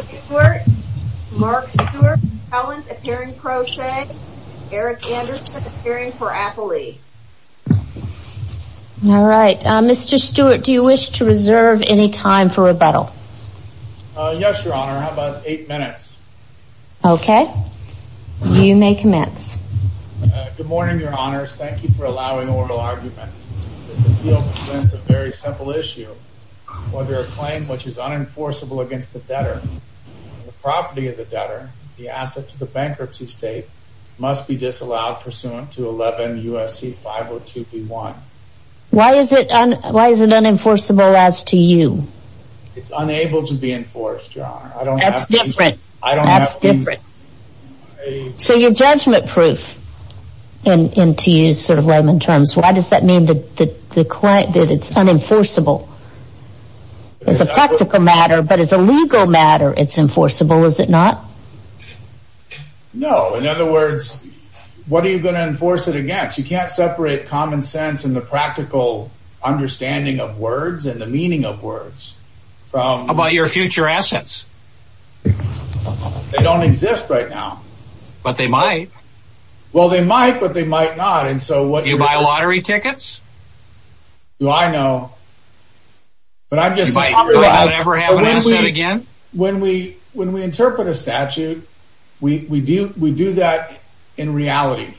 Stewart, Mark Stewart, Helen, a tearing crochet, Eric Anderson, a tearing paraphernalia. All right, Mr. Stewart, do you wish to reserve any time for rebuttal? Yes, Your Honor. How about eight minutes? Okay. You may commence. Good morning, Your Honors. Thank you for allowing oral argument. This appeal presents a very simple issue. Whether a claim which is unenforceable against the debtor, the property of the debtor, the assets of the bankruptcy state, must be disallowed pursuant to 11 U.S.C. 502 B.1. Why is it unenforceable as to you? It's unable to be enforced, Your Honor. That's different. That's different. So you're judgment-proof, to use sort of layman terms. Why does that mean that it's unenforceable? It's a practical matter, but as a legal matter, it's enforceable, is it not? No. In other words, what are you going to enforce it against? You can't separate common sense and the practical understanding of words and the meaning of words. How about your future assets? They don't exist right now. But they might. Well, they might, but they might not. Do you buy lottery tickets? Do I know? You might. When we interpret a statute, we do that in reality.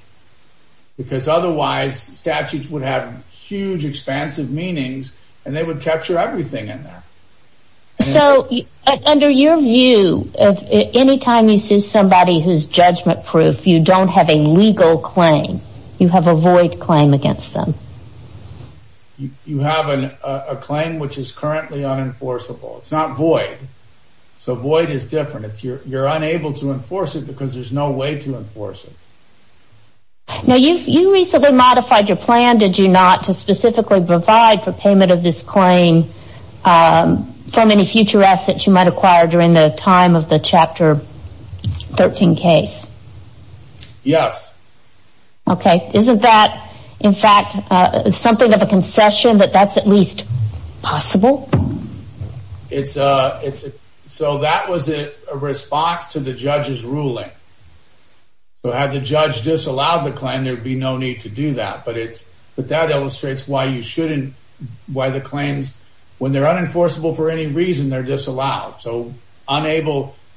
Because otherwise, statutes would have huge, expansive meanings, and they would capture everything in there. So under your view, any time you sue somebody who's judgment-proof, you don't have a legal claim. You have a void claim against them. You have a claim which is currently unenforceable. It's not void. So void is different. You're unable to enforce it because there's no way to enforce it. Now, you recently modified your plan, did you not, to specifically provide for payment of this claim for many future assets you might acquire during the time of the Chapter 13 case? Yes. Okay. Isn't that, in fact, something of a concession that that's at least possible? So had the judge disallowed the claim, there'd be no need to do that. But that illustrates why the claims, when they're unenforceable for any reason, they're disallowed. So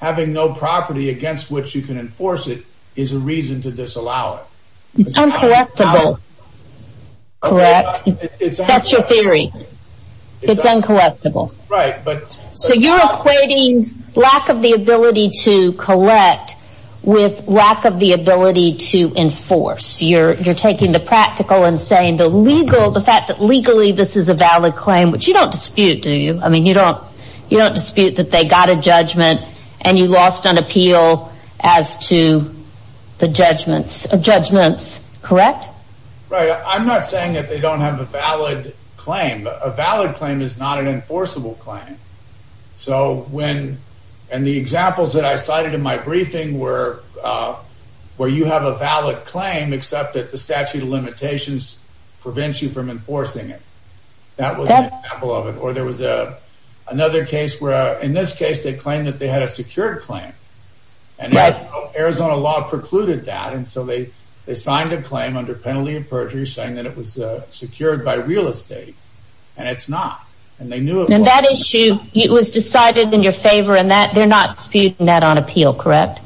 having no property against which you can enforce it is a reason to disallow it. It's uncollectible. Correct. That's your theory. It's uncollectible. Right. So you're equating lack of the ability to collect with lack of the ability to enforce. You're taking the practical and saying the legal, the fact that legally this is a valid claim, which you don't dispute, do you? I mean, you don't dispute that they got a judgment and you lost on appeal as to the judgments, correct? Right. I'm not saying that they don't have a valid claim. A valid claim is not an enforceable claim. And the examples that I cited in my briefing were where you have a valid claim, except that the statute of limitations prevents you from enforcing it. That was an example of it. Or there was another case where, in this case, they claimed that they had a secured claim. And Arizona law precluded that. And so they signed a claim under penalty of perjury saying that it was secured by real estate. And it's not. And they knew it wasn't. And that issue was decided in your favor and they're not disputing that on appeal, correct?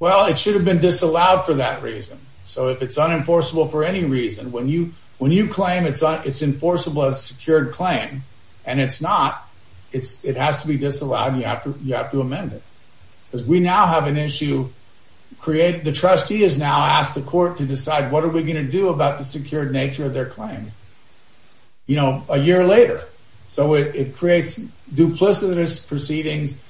Well, it should have been disallowed for that reason. So if it's unenforceable for any reason, when you claim it's enforceable as a secured claim and it's not, it has to be disallowed and you have to amend it. Because we now have an issue. The trustee has now asked the court to decide what are we going to do about the secured nature of their claim. You know, a year later. So it creates duplicitous proceedings,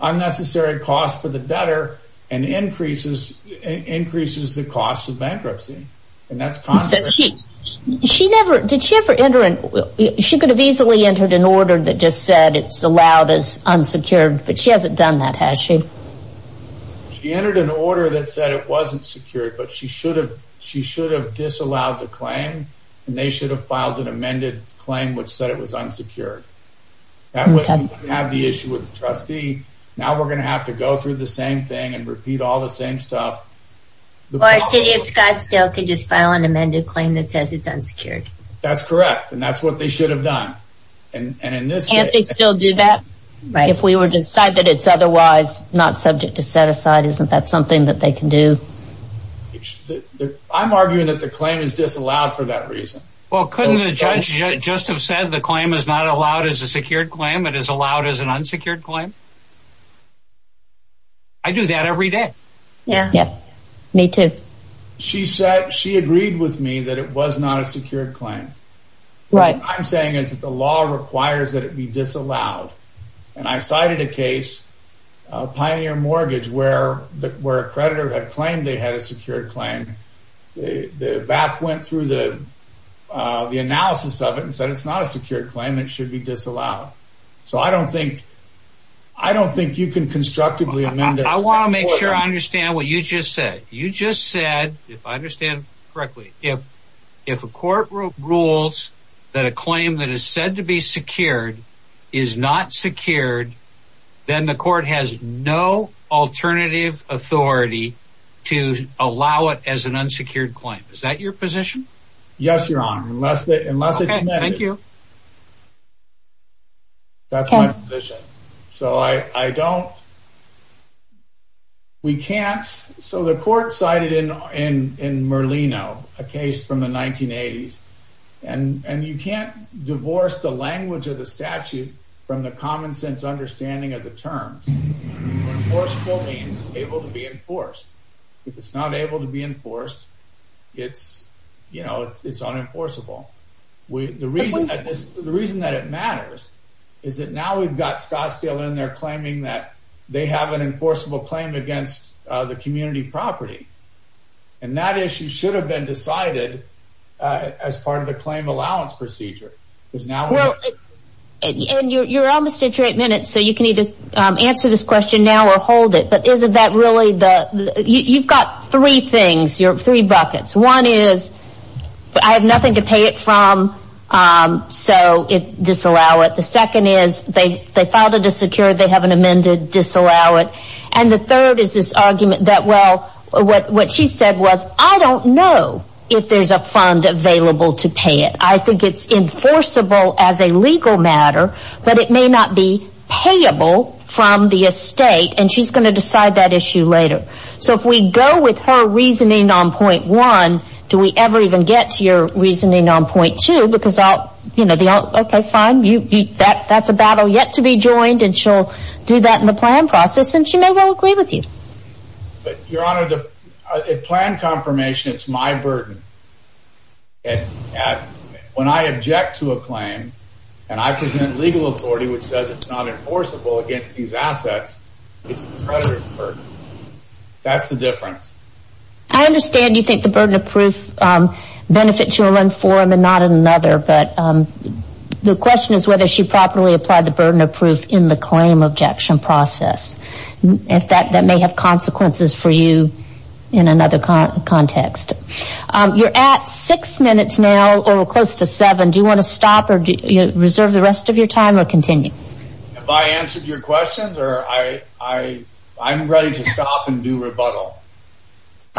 unnecessary costs for the debtor, and increases the cost of bankruptcy. She could have easily entered an order that just said it's allowed as unsecured, but she hasn't done that, has she? She entered an order that said it wasn't secured, but she should have disallowed the claim. And they should have filed an amended claim which said it was unsecured. That would have the issue with the trustee. Now we're going to have to go through the same thing and repeat all the same stuff. Or City of Scottsdale could just file an amended claim that says it's unsecured. That's correct, and that's what they should have done. Can't they still do that? If we were to decide that it's otherwise not subject to set aside, isn't that something that they can do? I'm arguing that the claim is disallowed for that reason. Well, couldn't the judge just have said the claim is not allowed as a secured claim, it is allowed as an unsecured claim? I do that every day. Me too. She agreed with me that it was not a secured claim. What I'm saying is that the law requires that it be disallowed. And I cited a case, Pioneer Mortgage, where a creditor had claimed they had a secured claim. The BAP went through the analysis of it and said it's not a secured claim, it should be disallowed. So I don't think you can constructively amend it. I want to make sure I understand what you just said. You just said, if I understand correctly, if a court rules that a claim that is said to be secured is not secured, then the court has no alternative authority to allow it as an unsecured claim. Is that your position? Yes, Your Honor, unless it's amended. Okay, thank you. That's my position. So I don't... We can't... So the court cited in Merlino, a case from the 1980s, and you can't divorce the language of the statute from the common sense understanding of the terms. Enforceable means able to be enforced. If it's not able to be enforced, it's unenforceable. The reason that it matters is that now we've got Scottsdale in there claiming that they have an enforceable claim against the community property. And that issue should have been decided as part of the claim allowance procedure. And you're almost at your eight minutes, so you can either answer this question now or hold it. But isn't that really the... You've got three things, three buckets. One is, I have nothing to pay it from, so disallow it. The second is, they filed it as secure, they have it amended, disallow it. And the third is this argument that, well, what she said was, I don't know if there's a fund available to pay it. I think it's enforceable as a legal matter, but it may not be payable from the estate. And she's going to decide that issue later. So if we go with her reasoning on point one, do we ever even get to your reasoning on point two? Because I'll... Okay, fine. That's a battle yet to be joined, and she'll do that in the plan process, and she may well agree with you. Your Honor, the plan confirmation, it's my burden. When I object to a claim, and I present legal authority which says it's not enforceable against these assets, it's the treasurer's burden. That's the difference. I understand you think the burden of proof benefits you in one form and not in another, but the question is whether she properly applied the burden of proof in the claim objection process. That may have consequences for you in another context. You're at six minutes now, or close to seven. Do you want to stop or reserve the rest of your time or continue? Have I answered your questions, or I'm ready to stop and do rebuttal.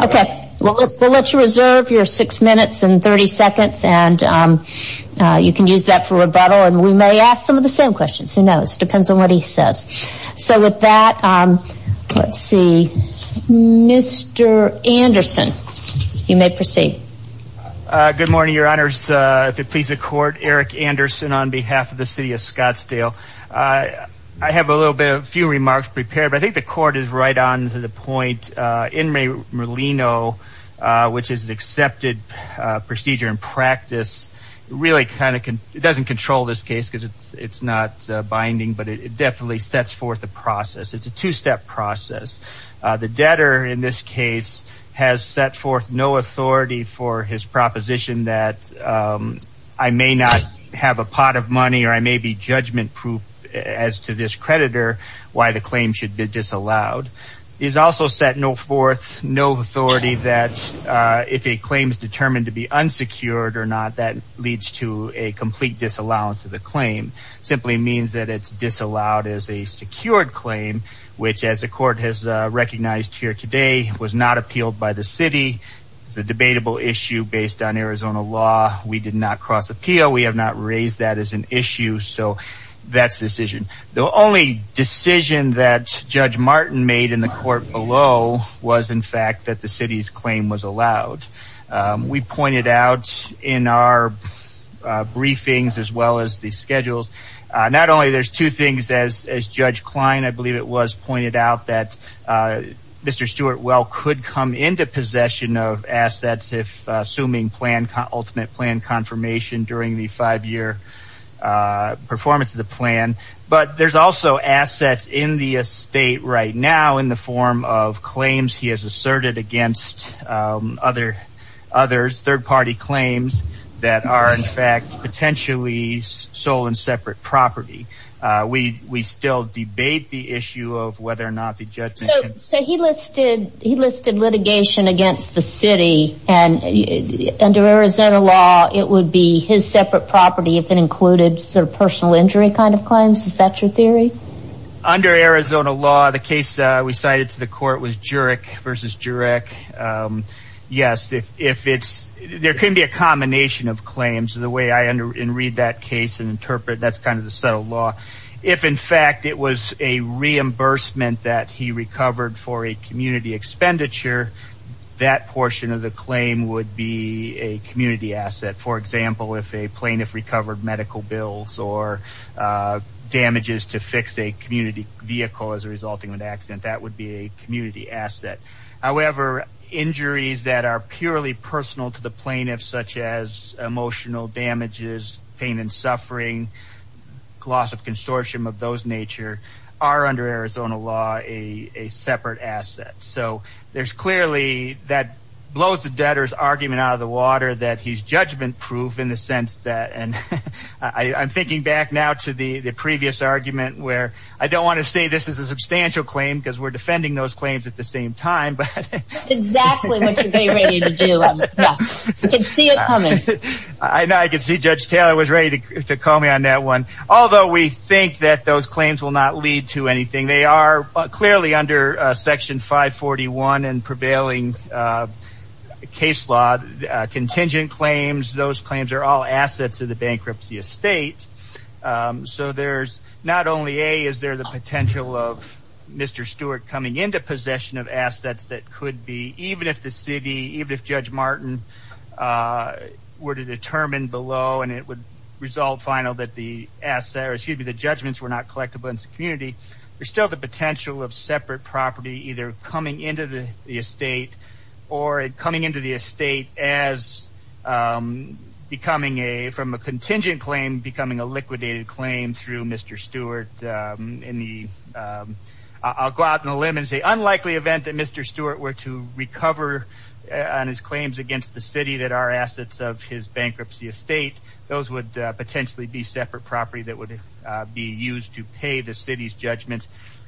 Okay. We'll let you reserve your six minutes and 30 seconds, and you can use that for rebuttal, and we may ask some of the same questions. Who knows? Depends on what he says. So with that, let's see. Mr. Anderson, you may proceed. Good morning, Your Honors. If it pleases the Court, Eric Anderson on behalf of the City of Scottsdale. I have a few remarks prepared, but I think the Court is right on to the point. In re Merlino, which is an accepted procedure and practice, it doesn't control this case because it's not binding, but it definitely sets forth the process. It's a two-step process. The debtor in this case has set forth no authority for his proposition that I may not have a pot of money or I may be judgment-proof as to this creditor why the claim should be disallowed. It is also set forth no authority that if a claim is determined to be unsecured or not, that leads to a complete disallowance of the claim. Simply means that it's disallowed as a secured claim, which as the Court has recognized here today, was not appealed by the City. It's a debatable issue based on Arizona law. We did not cross-appeal. We have not raised that as an issue. So that's the decision. The only decision that Judge Martin made in the Court below was, in fact, that the City's claim was allowed. We pointed out in our briefings, as well as the schedules, not only there's two things, as Judge Klein, I believe it was, pointed out, that Mr. Stewart well could come into possession of assets if assuming ultimate plan confirmation during the five-year performance of the plan, but there's also assets in the estate right now in the form of claims he has asserted against others, third-party claims that are, in fact, potentially sole and separate property. We still debate the issue of whether or not the judgment... So he listed litigation against the City, and under Arizona law, it would be his separate property if it included sort of personal injury kind of claims? Is that your theory? Under Arizona law, the case we cited to the Court was Jurek v. Jurek. Yes, if it's... there can be a combination of claims. The way I read that case and interpret it, that's kind of the set of law. If, in fact, it was a reimbursement that he recovered for a community expenditure, that portion of the claim would be a community asset. For example, if a plaintiff recovered medical bills or damages to fix a community vehicle as a result of an accident, that would be a community asset. However, injuries that are purely personal to the plaintiff, such as emotional damages, pain and suffering, loss of consortium of those nature, are under Arizona law a separate asset. So there's clearly... that blows the debtor's argument out of the water that he's judgment-proof in the sense that... I'm thinking back now to the previous argument where I don't want to say this is a substantial claim because we're defending those claims at the same time, but... That's exactly what you're getting ready to do. I can see it coming. I can see Judge Taylor was ready to call me on that one. Although we think that those claims will not lead to anything, they are clearly under Section 541 and prevailing case law, contingent claims. Those claims are all assets of the bankruptcy estate. So there's not only, A, is there the potential of Mr. Stewart coming into possession of assets that could be, even if the city, even if Judge Martin were to determine below and it would result final that the judgments were not collectible in the community, there's still the potential of separate property either coming into the estate or it coming into the estate as becoming a... from a contingent claim becoming a liquidated claim through Mr. Stewart in the... I'll go out on a limb and say unlikely event that Mr. Stewart were to recover on his claims against the city that are assets of his bankruptcy estate, those would potentially be separate property that would be used to pay the city's judgments,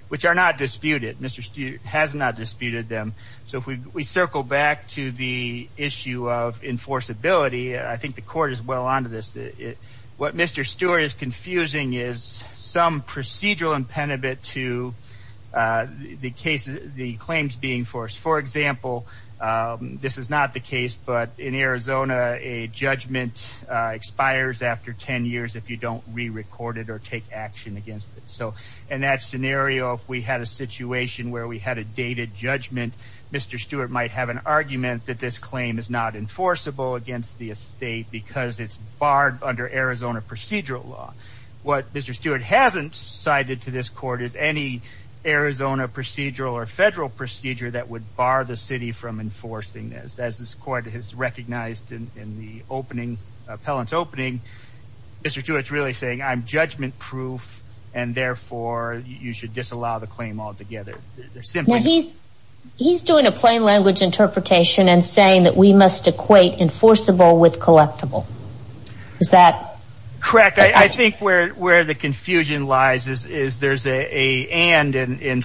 which are not disputed. Mr. Stewart has not disputed them. So if we circle back to the issue of enforceability, I think the court is well on to this. What Mr. Stewart is confusing is some procedural impenitent to the claims being forced. For example, this is not the case, but in Arizona, a judgment expires after 10 years if you don't re-record it or take action against it. So in that scenario, if we had a situation where we had a dated judgment, Mr. Stewart might have an argument that this claim is not enforceable against the estate because it's barred under Arizona procedural law. What Mr. Stewart hasn't cited to this court is any Arizona procedural or federal procedure that would bar the city from enforcing this. As this court has recognized in the opening, appellant's opening, Mr. Stewart's really saying I'm judgment-proof and therefore you should disallow the claim altogether. He's doing a plain language interpretation and saying that we must equate enforceable with collectible. Correct. I think where the confusion lies is there's a and in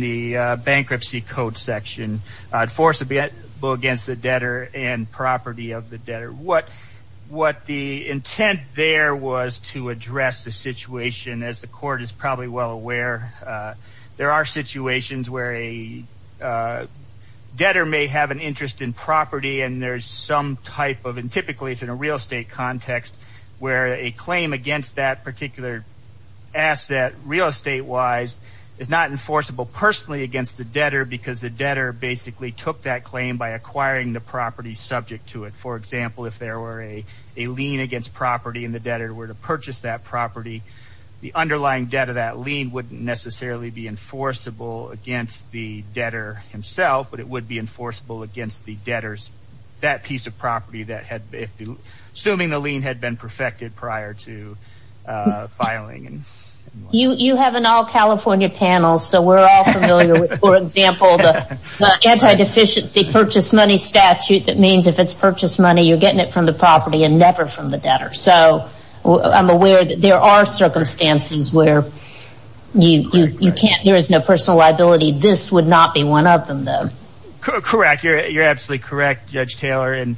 the bankruptcy code section. Enforceable against the debtor and property of the debtor. What the intent there was to address the situation, as the court is probably well aware, there are situations where a debtor may have an interest in property and there's some type of and typically it's in a real estate context where a claim against that particular asset real estate-wise is not enforceable personally against the debtor because the debtor basically took that claim by acquiring the property subject to it. For example, if there were a lien against property and the debtor were to purchase that property, the underlying debt of that lien wouldn't necessarily be enforceable against the debtor himself, but it would be enforceable against the debtor's that piece of property assuming the lien had been perfected prior to filing. You have an all-California panel, so we're all familiar with, for example, the anti-deficiency purchase money statute that means if it's purchased money, you're getting it from the property and never from the debtor. So I'm aware that there are circumstances where there is no personal liability. This would not be one of them, though. Correct. You're absolutely correct, Judge Taylor. And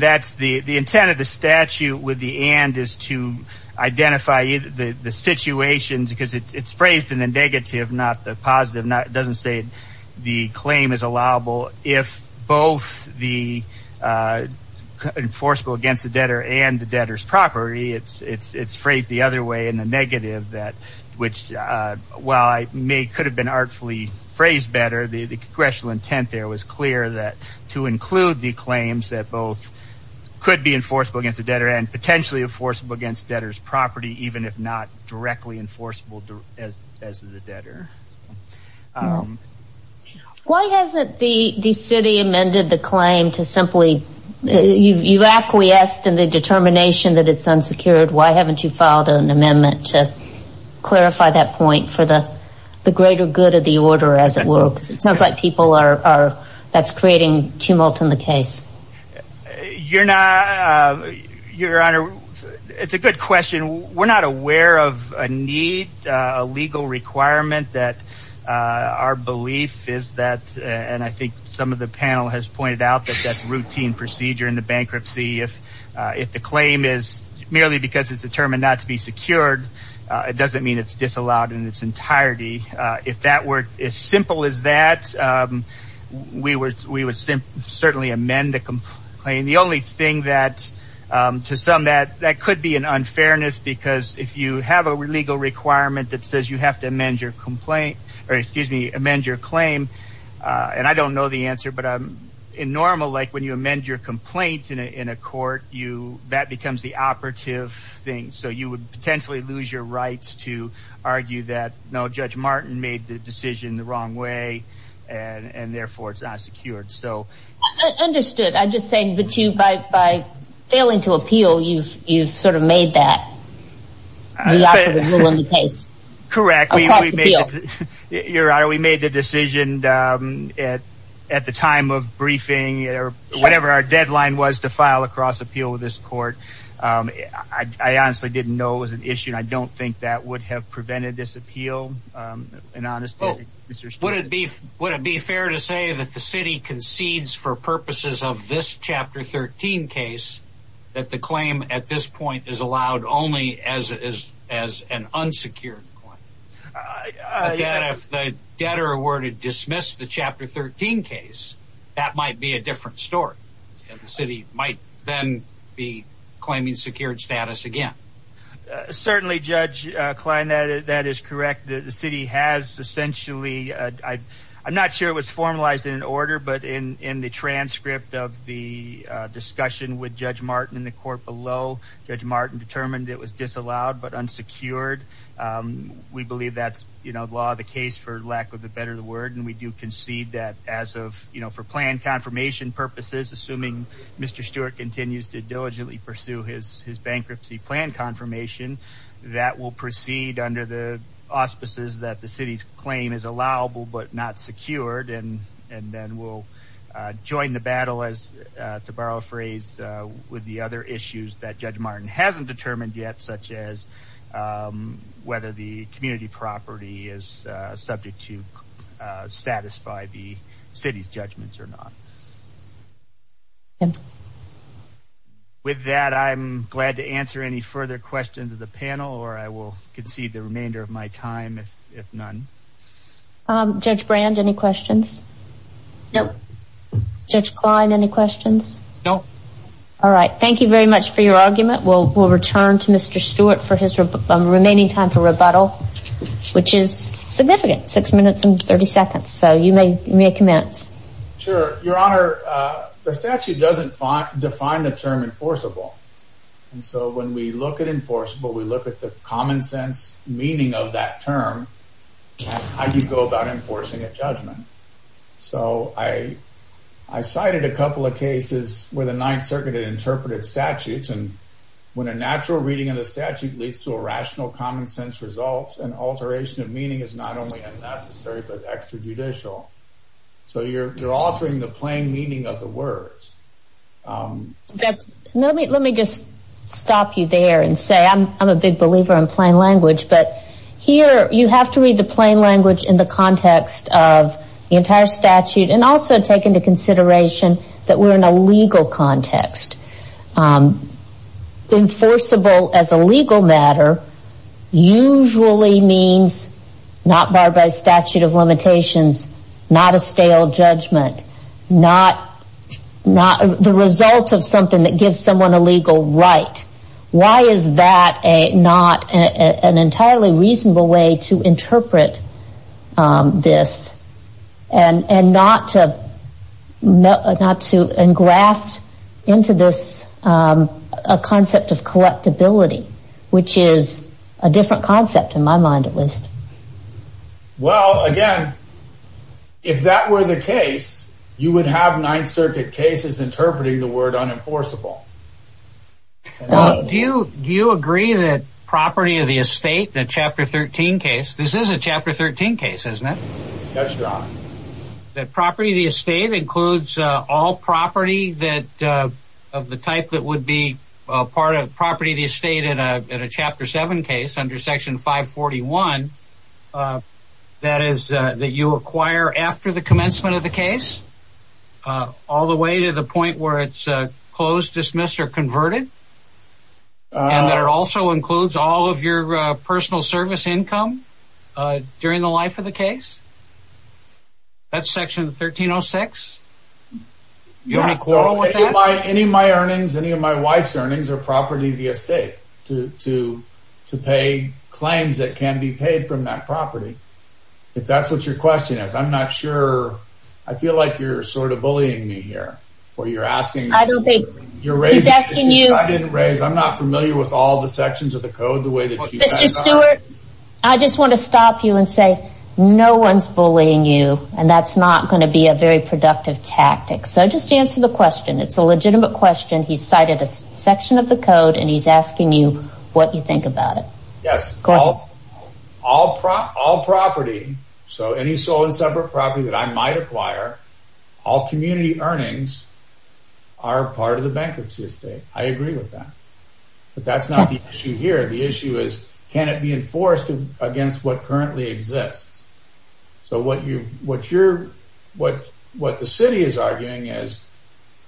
that's the intent of the statute with the and is to identify the situations because it's phrased in the negative, not the positive. It doesn't say the claim is allowable. If both the enforceable against the debtor and the debtor's property, it's phrased the other way in the negative, which while it could have been artfully phrased better, the congressional intent there was clear that to include the claims that both could be enforceable against the debtor and potentially enforceable against debtor's property, even if not directly enforceable as the debtor. Why hasn't the city amended the claim to simply You've acquiesced in the determination that it's unsecured. Why haven't you filed an amendment to clarify that point for the greater good of the order as it were? Because it sounds like people are creating tumult in the case. Your Honor, it's a good question. We're not aware of a need, a legal requirement that our belief is that, and I think some of the panel has pointed out that that's routine procedure in the bankruptcy. If the claim is merely because it's determined not to be secured, it doesn't mean it's disallowed in its entirety. If that were as simple as that, we would certainly amend the claim. The only thing that, to some, that could be an unfairness because if you have a legal requirement that says you have to amend your complaint, or excuse me, amend your claim, and I don't know the answer, but in normal, like when you amend your complaint in a court, that becomes the operative thing. So you would potentially lose your rights to argue that, no, Judge Martin made the decision the wrong way, and therefore it's unsecured. Understood. I'm just saying that by failing to appeal, you've sort of made that the operative rule of the case. Correct. Your Honor, we made the decision at the time of briefing, or whatever our deadline was to file a cross-appeal with this court. I honestly didn't know it was an issue, and I don't think that would have prevented this appeal. Would it be fair to say that the city concedes for purposes of this Chapter 13 case that the claim at this point is allowed only as an unsecured claim? That if the debtor were to dismiss the Chapter 13 case, that might be a different story, and the city might then be claiming secured status again. Certainly, Judge Klein, that is correct. The city has essentially—I'm not sure it was formalized in an order, but in the transcript of the discussion with Judge Martin in the court below, Judge Martin determined it was disallowed but unsecured. We believe that's law of the case, for lack of a better word, and we do concede that as of—for plan confirmation purposes, assuming Mr. Stewart continues to diligently pursue his bankruptcy plan confirmation, that will proceed under the auspices that the city's claim is allowable but not secured, and then we'll join the battle, to borrow a phrase, with the other issues that Judge Martin hasn't determined yet, such as whether the community property is subject to satisfy the city's judgments or not. With that, I'm glad to answer any further questions of the panel, or I will concede the remainder of my time, if none. Judge Brand, any questions? No. Judge Klein, any questions? No. All right. Thank you very much for your argument. We'll return to Mr. Stewart for his remaining time for rebuttal, which is significant, six minutes and 30 seconds, so you may commence. Sure. Your Honor, the statute doesn't define the term enforceable, and so when we look at enforceable, we look at the common sense meaning of that term, and how you go about enforcing a judgment. So, I cited a couple of cases where the Ninth Circuit had interpreted statutes, and when a natural reading of the statute leads to a rational common sense result, an alteration of meaning is not only unnecessary, but extrajudicial. So, you're altering the plain meaning of the words. Let me just stop you there and say I'm a big believer in plain language, but here you have to read the plain language in the context of the entire statute, and also take into consideration that we're in a legal context. Enforceable as a legal matter usually means not barred by statute of limitations, not a stale judgment, not the result of something that gives someone a legal right. Why is that not an entirely reasonable way to interpret this, and not to engraft into this a concept of collectability, which is a different concept in my mind at least. Well, again, if that were the case, you would have Ninth Circuit cases interpreting the word unenforceable. Do you agree that property of the estate, the Chapter 13 case, this is a Chapter 13 case, isn't it? That's right. That property of the estate includes all property of the type that would be part of property of the estate in a Chapter 7 case under Section 541, that is that you acquire after the commencement of the case, all the way to the point where it's closed, dismissed, or converted, and that it also includes all of your personal service income during the life of the case? That's Section 1306? Any of my earnings, any of my wife's earnings, are property of the estate to pay claims that can be paid from that property. If that's what your question is, I'm not sure. I feel like you're sort of bullying me here, or you're asking me. I don't think he's asking you. I'm not familiar with all the sections of the code the way that you guys are. Mr. Stewart, I just want to stop you and say no one's bullying you, and that's not going to be a very productive tactic. So just answer the question. It's a legitimate question. He's cited a section of the code, and he's asking you what you think about it. Yes. All property, so any sole and separate property that I might acquire, all community earnings are part of the bankruptcy estate. I agree with that. But that's not the issue here. The issue is can it be enforced against what currently exists? So what the city is arguing is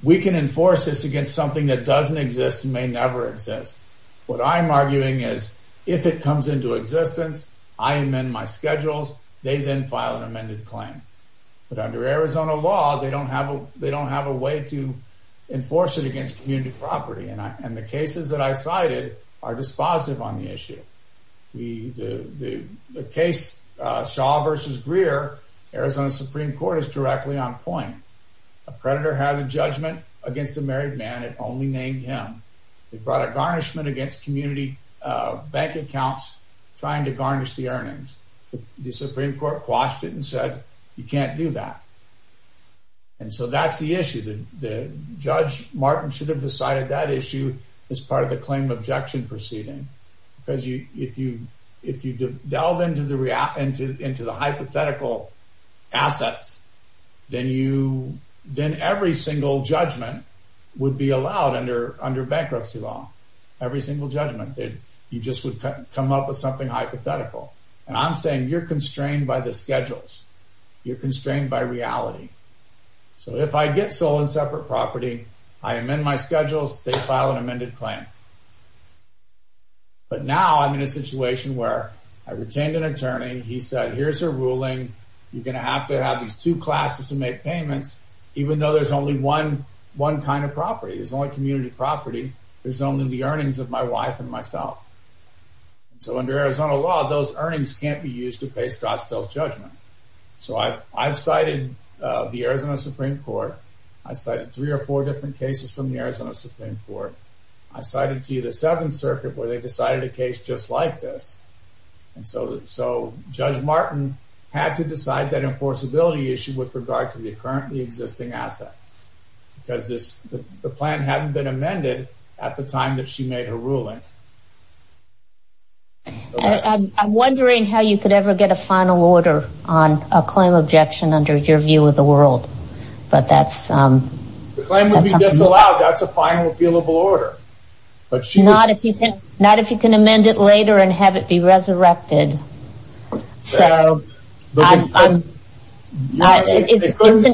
we can enforce this against something that doesn't exist and may never exist. What I'm arguing is if it comes into existence, I amend my schedules. They then file an amended claim. But under Arizona law, they don't have a way to enforce it against community property, and the cases that I cited are dispositive on the issue. The case Shaw v. Greer, Arizona Supreme Court is directly on point. A predator had a judgment against a married man and only named him. They brought a garnishment against community bank accounts trying to garnish the earnings. The Supreme Court quashed it and said you can't do that. And so that's the issue. Judge Martin should have decided that issue as part of the claim objection proceeding because if you delve into the hypothetical assets, then every single judgment would be allowed under bankruptcy law, every single judgment. You just would come up with something hypothetical. And I'm saying you're constrained by the schedules. You're constrained by reality. They file an amended claim. But now I'm in a situation where I retained an attorney. He said here's your ruling. You're going to have to have these two classes to make payments even though there's only one kind of property. There's only community property. There's only the earnings of my wife and myself. So under Arizona law, those earnings can't be used to face Drostel's judgment. So I've cited the Arizona Supreme Court. I cited three or four different cases from the Arizona Supreme Court. I cited to you the Seventh Circuit where they decided a case just like this. And so Judge Martin had to decide that enforceability issue with regard to the currently existing assets because the plan hadn't been amended at the time that she made her ruling. I'm wondering how you could ever get a final order on a claim objection under your view of the world. The claim would be disallowed. That's a final appealable order. Not if you can amend it later and have it be resurrected. It's an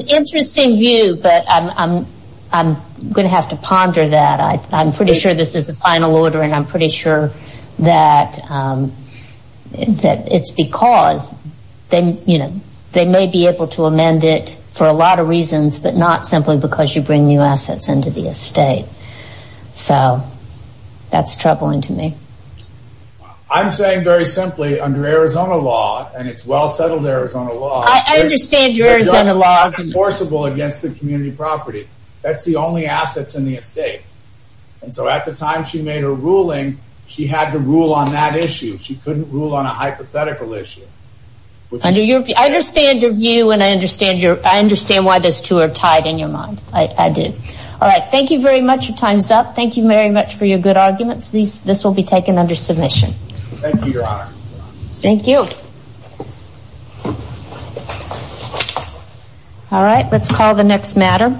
interesting view, but I'm going to have to ponder that. I'm pretty sure this is a final order, and I'm pretty sure that it's because they may be able to amend it for a lot of reasons, but not simply because you bring new assets into the estate. So that's troubling to me. I'm saying very simply under Arizona law, and it's well-settled Arizona law. I understand your Arizona law. It's unenforceable against the community property. That's the only assets in the estate. And so at the time she made her ruling, she had to rule on that issue. She couldn't rule on a hypothetical issue. I understand your view, and I understand why those two are tied in your mind. I do. All right. Thank you very much. Your time is up. Thank you very much for your good arguments. This will be taken under submission. Thank you, Your Honor. Thank you. All right. Let's call the next matter.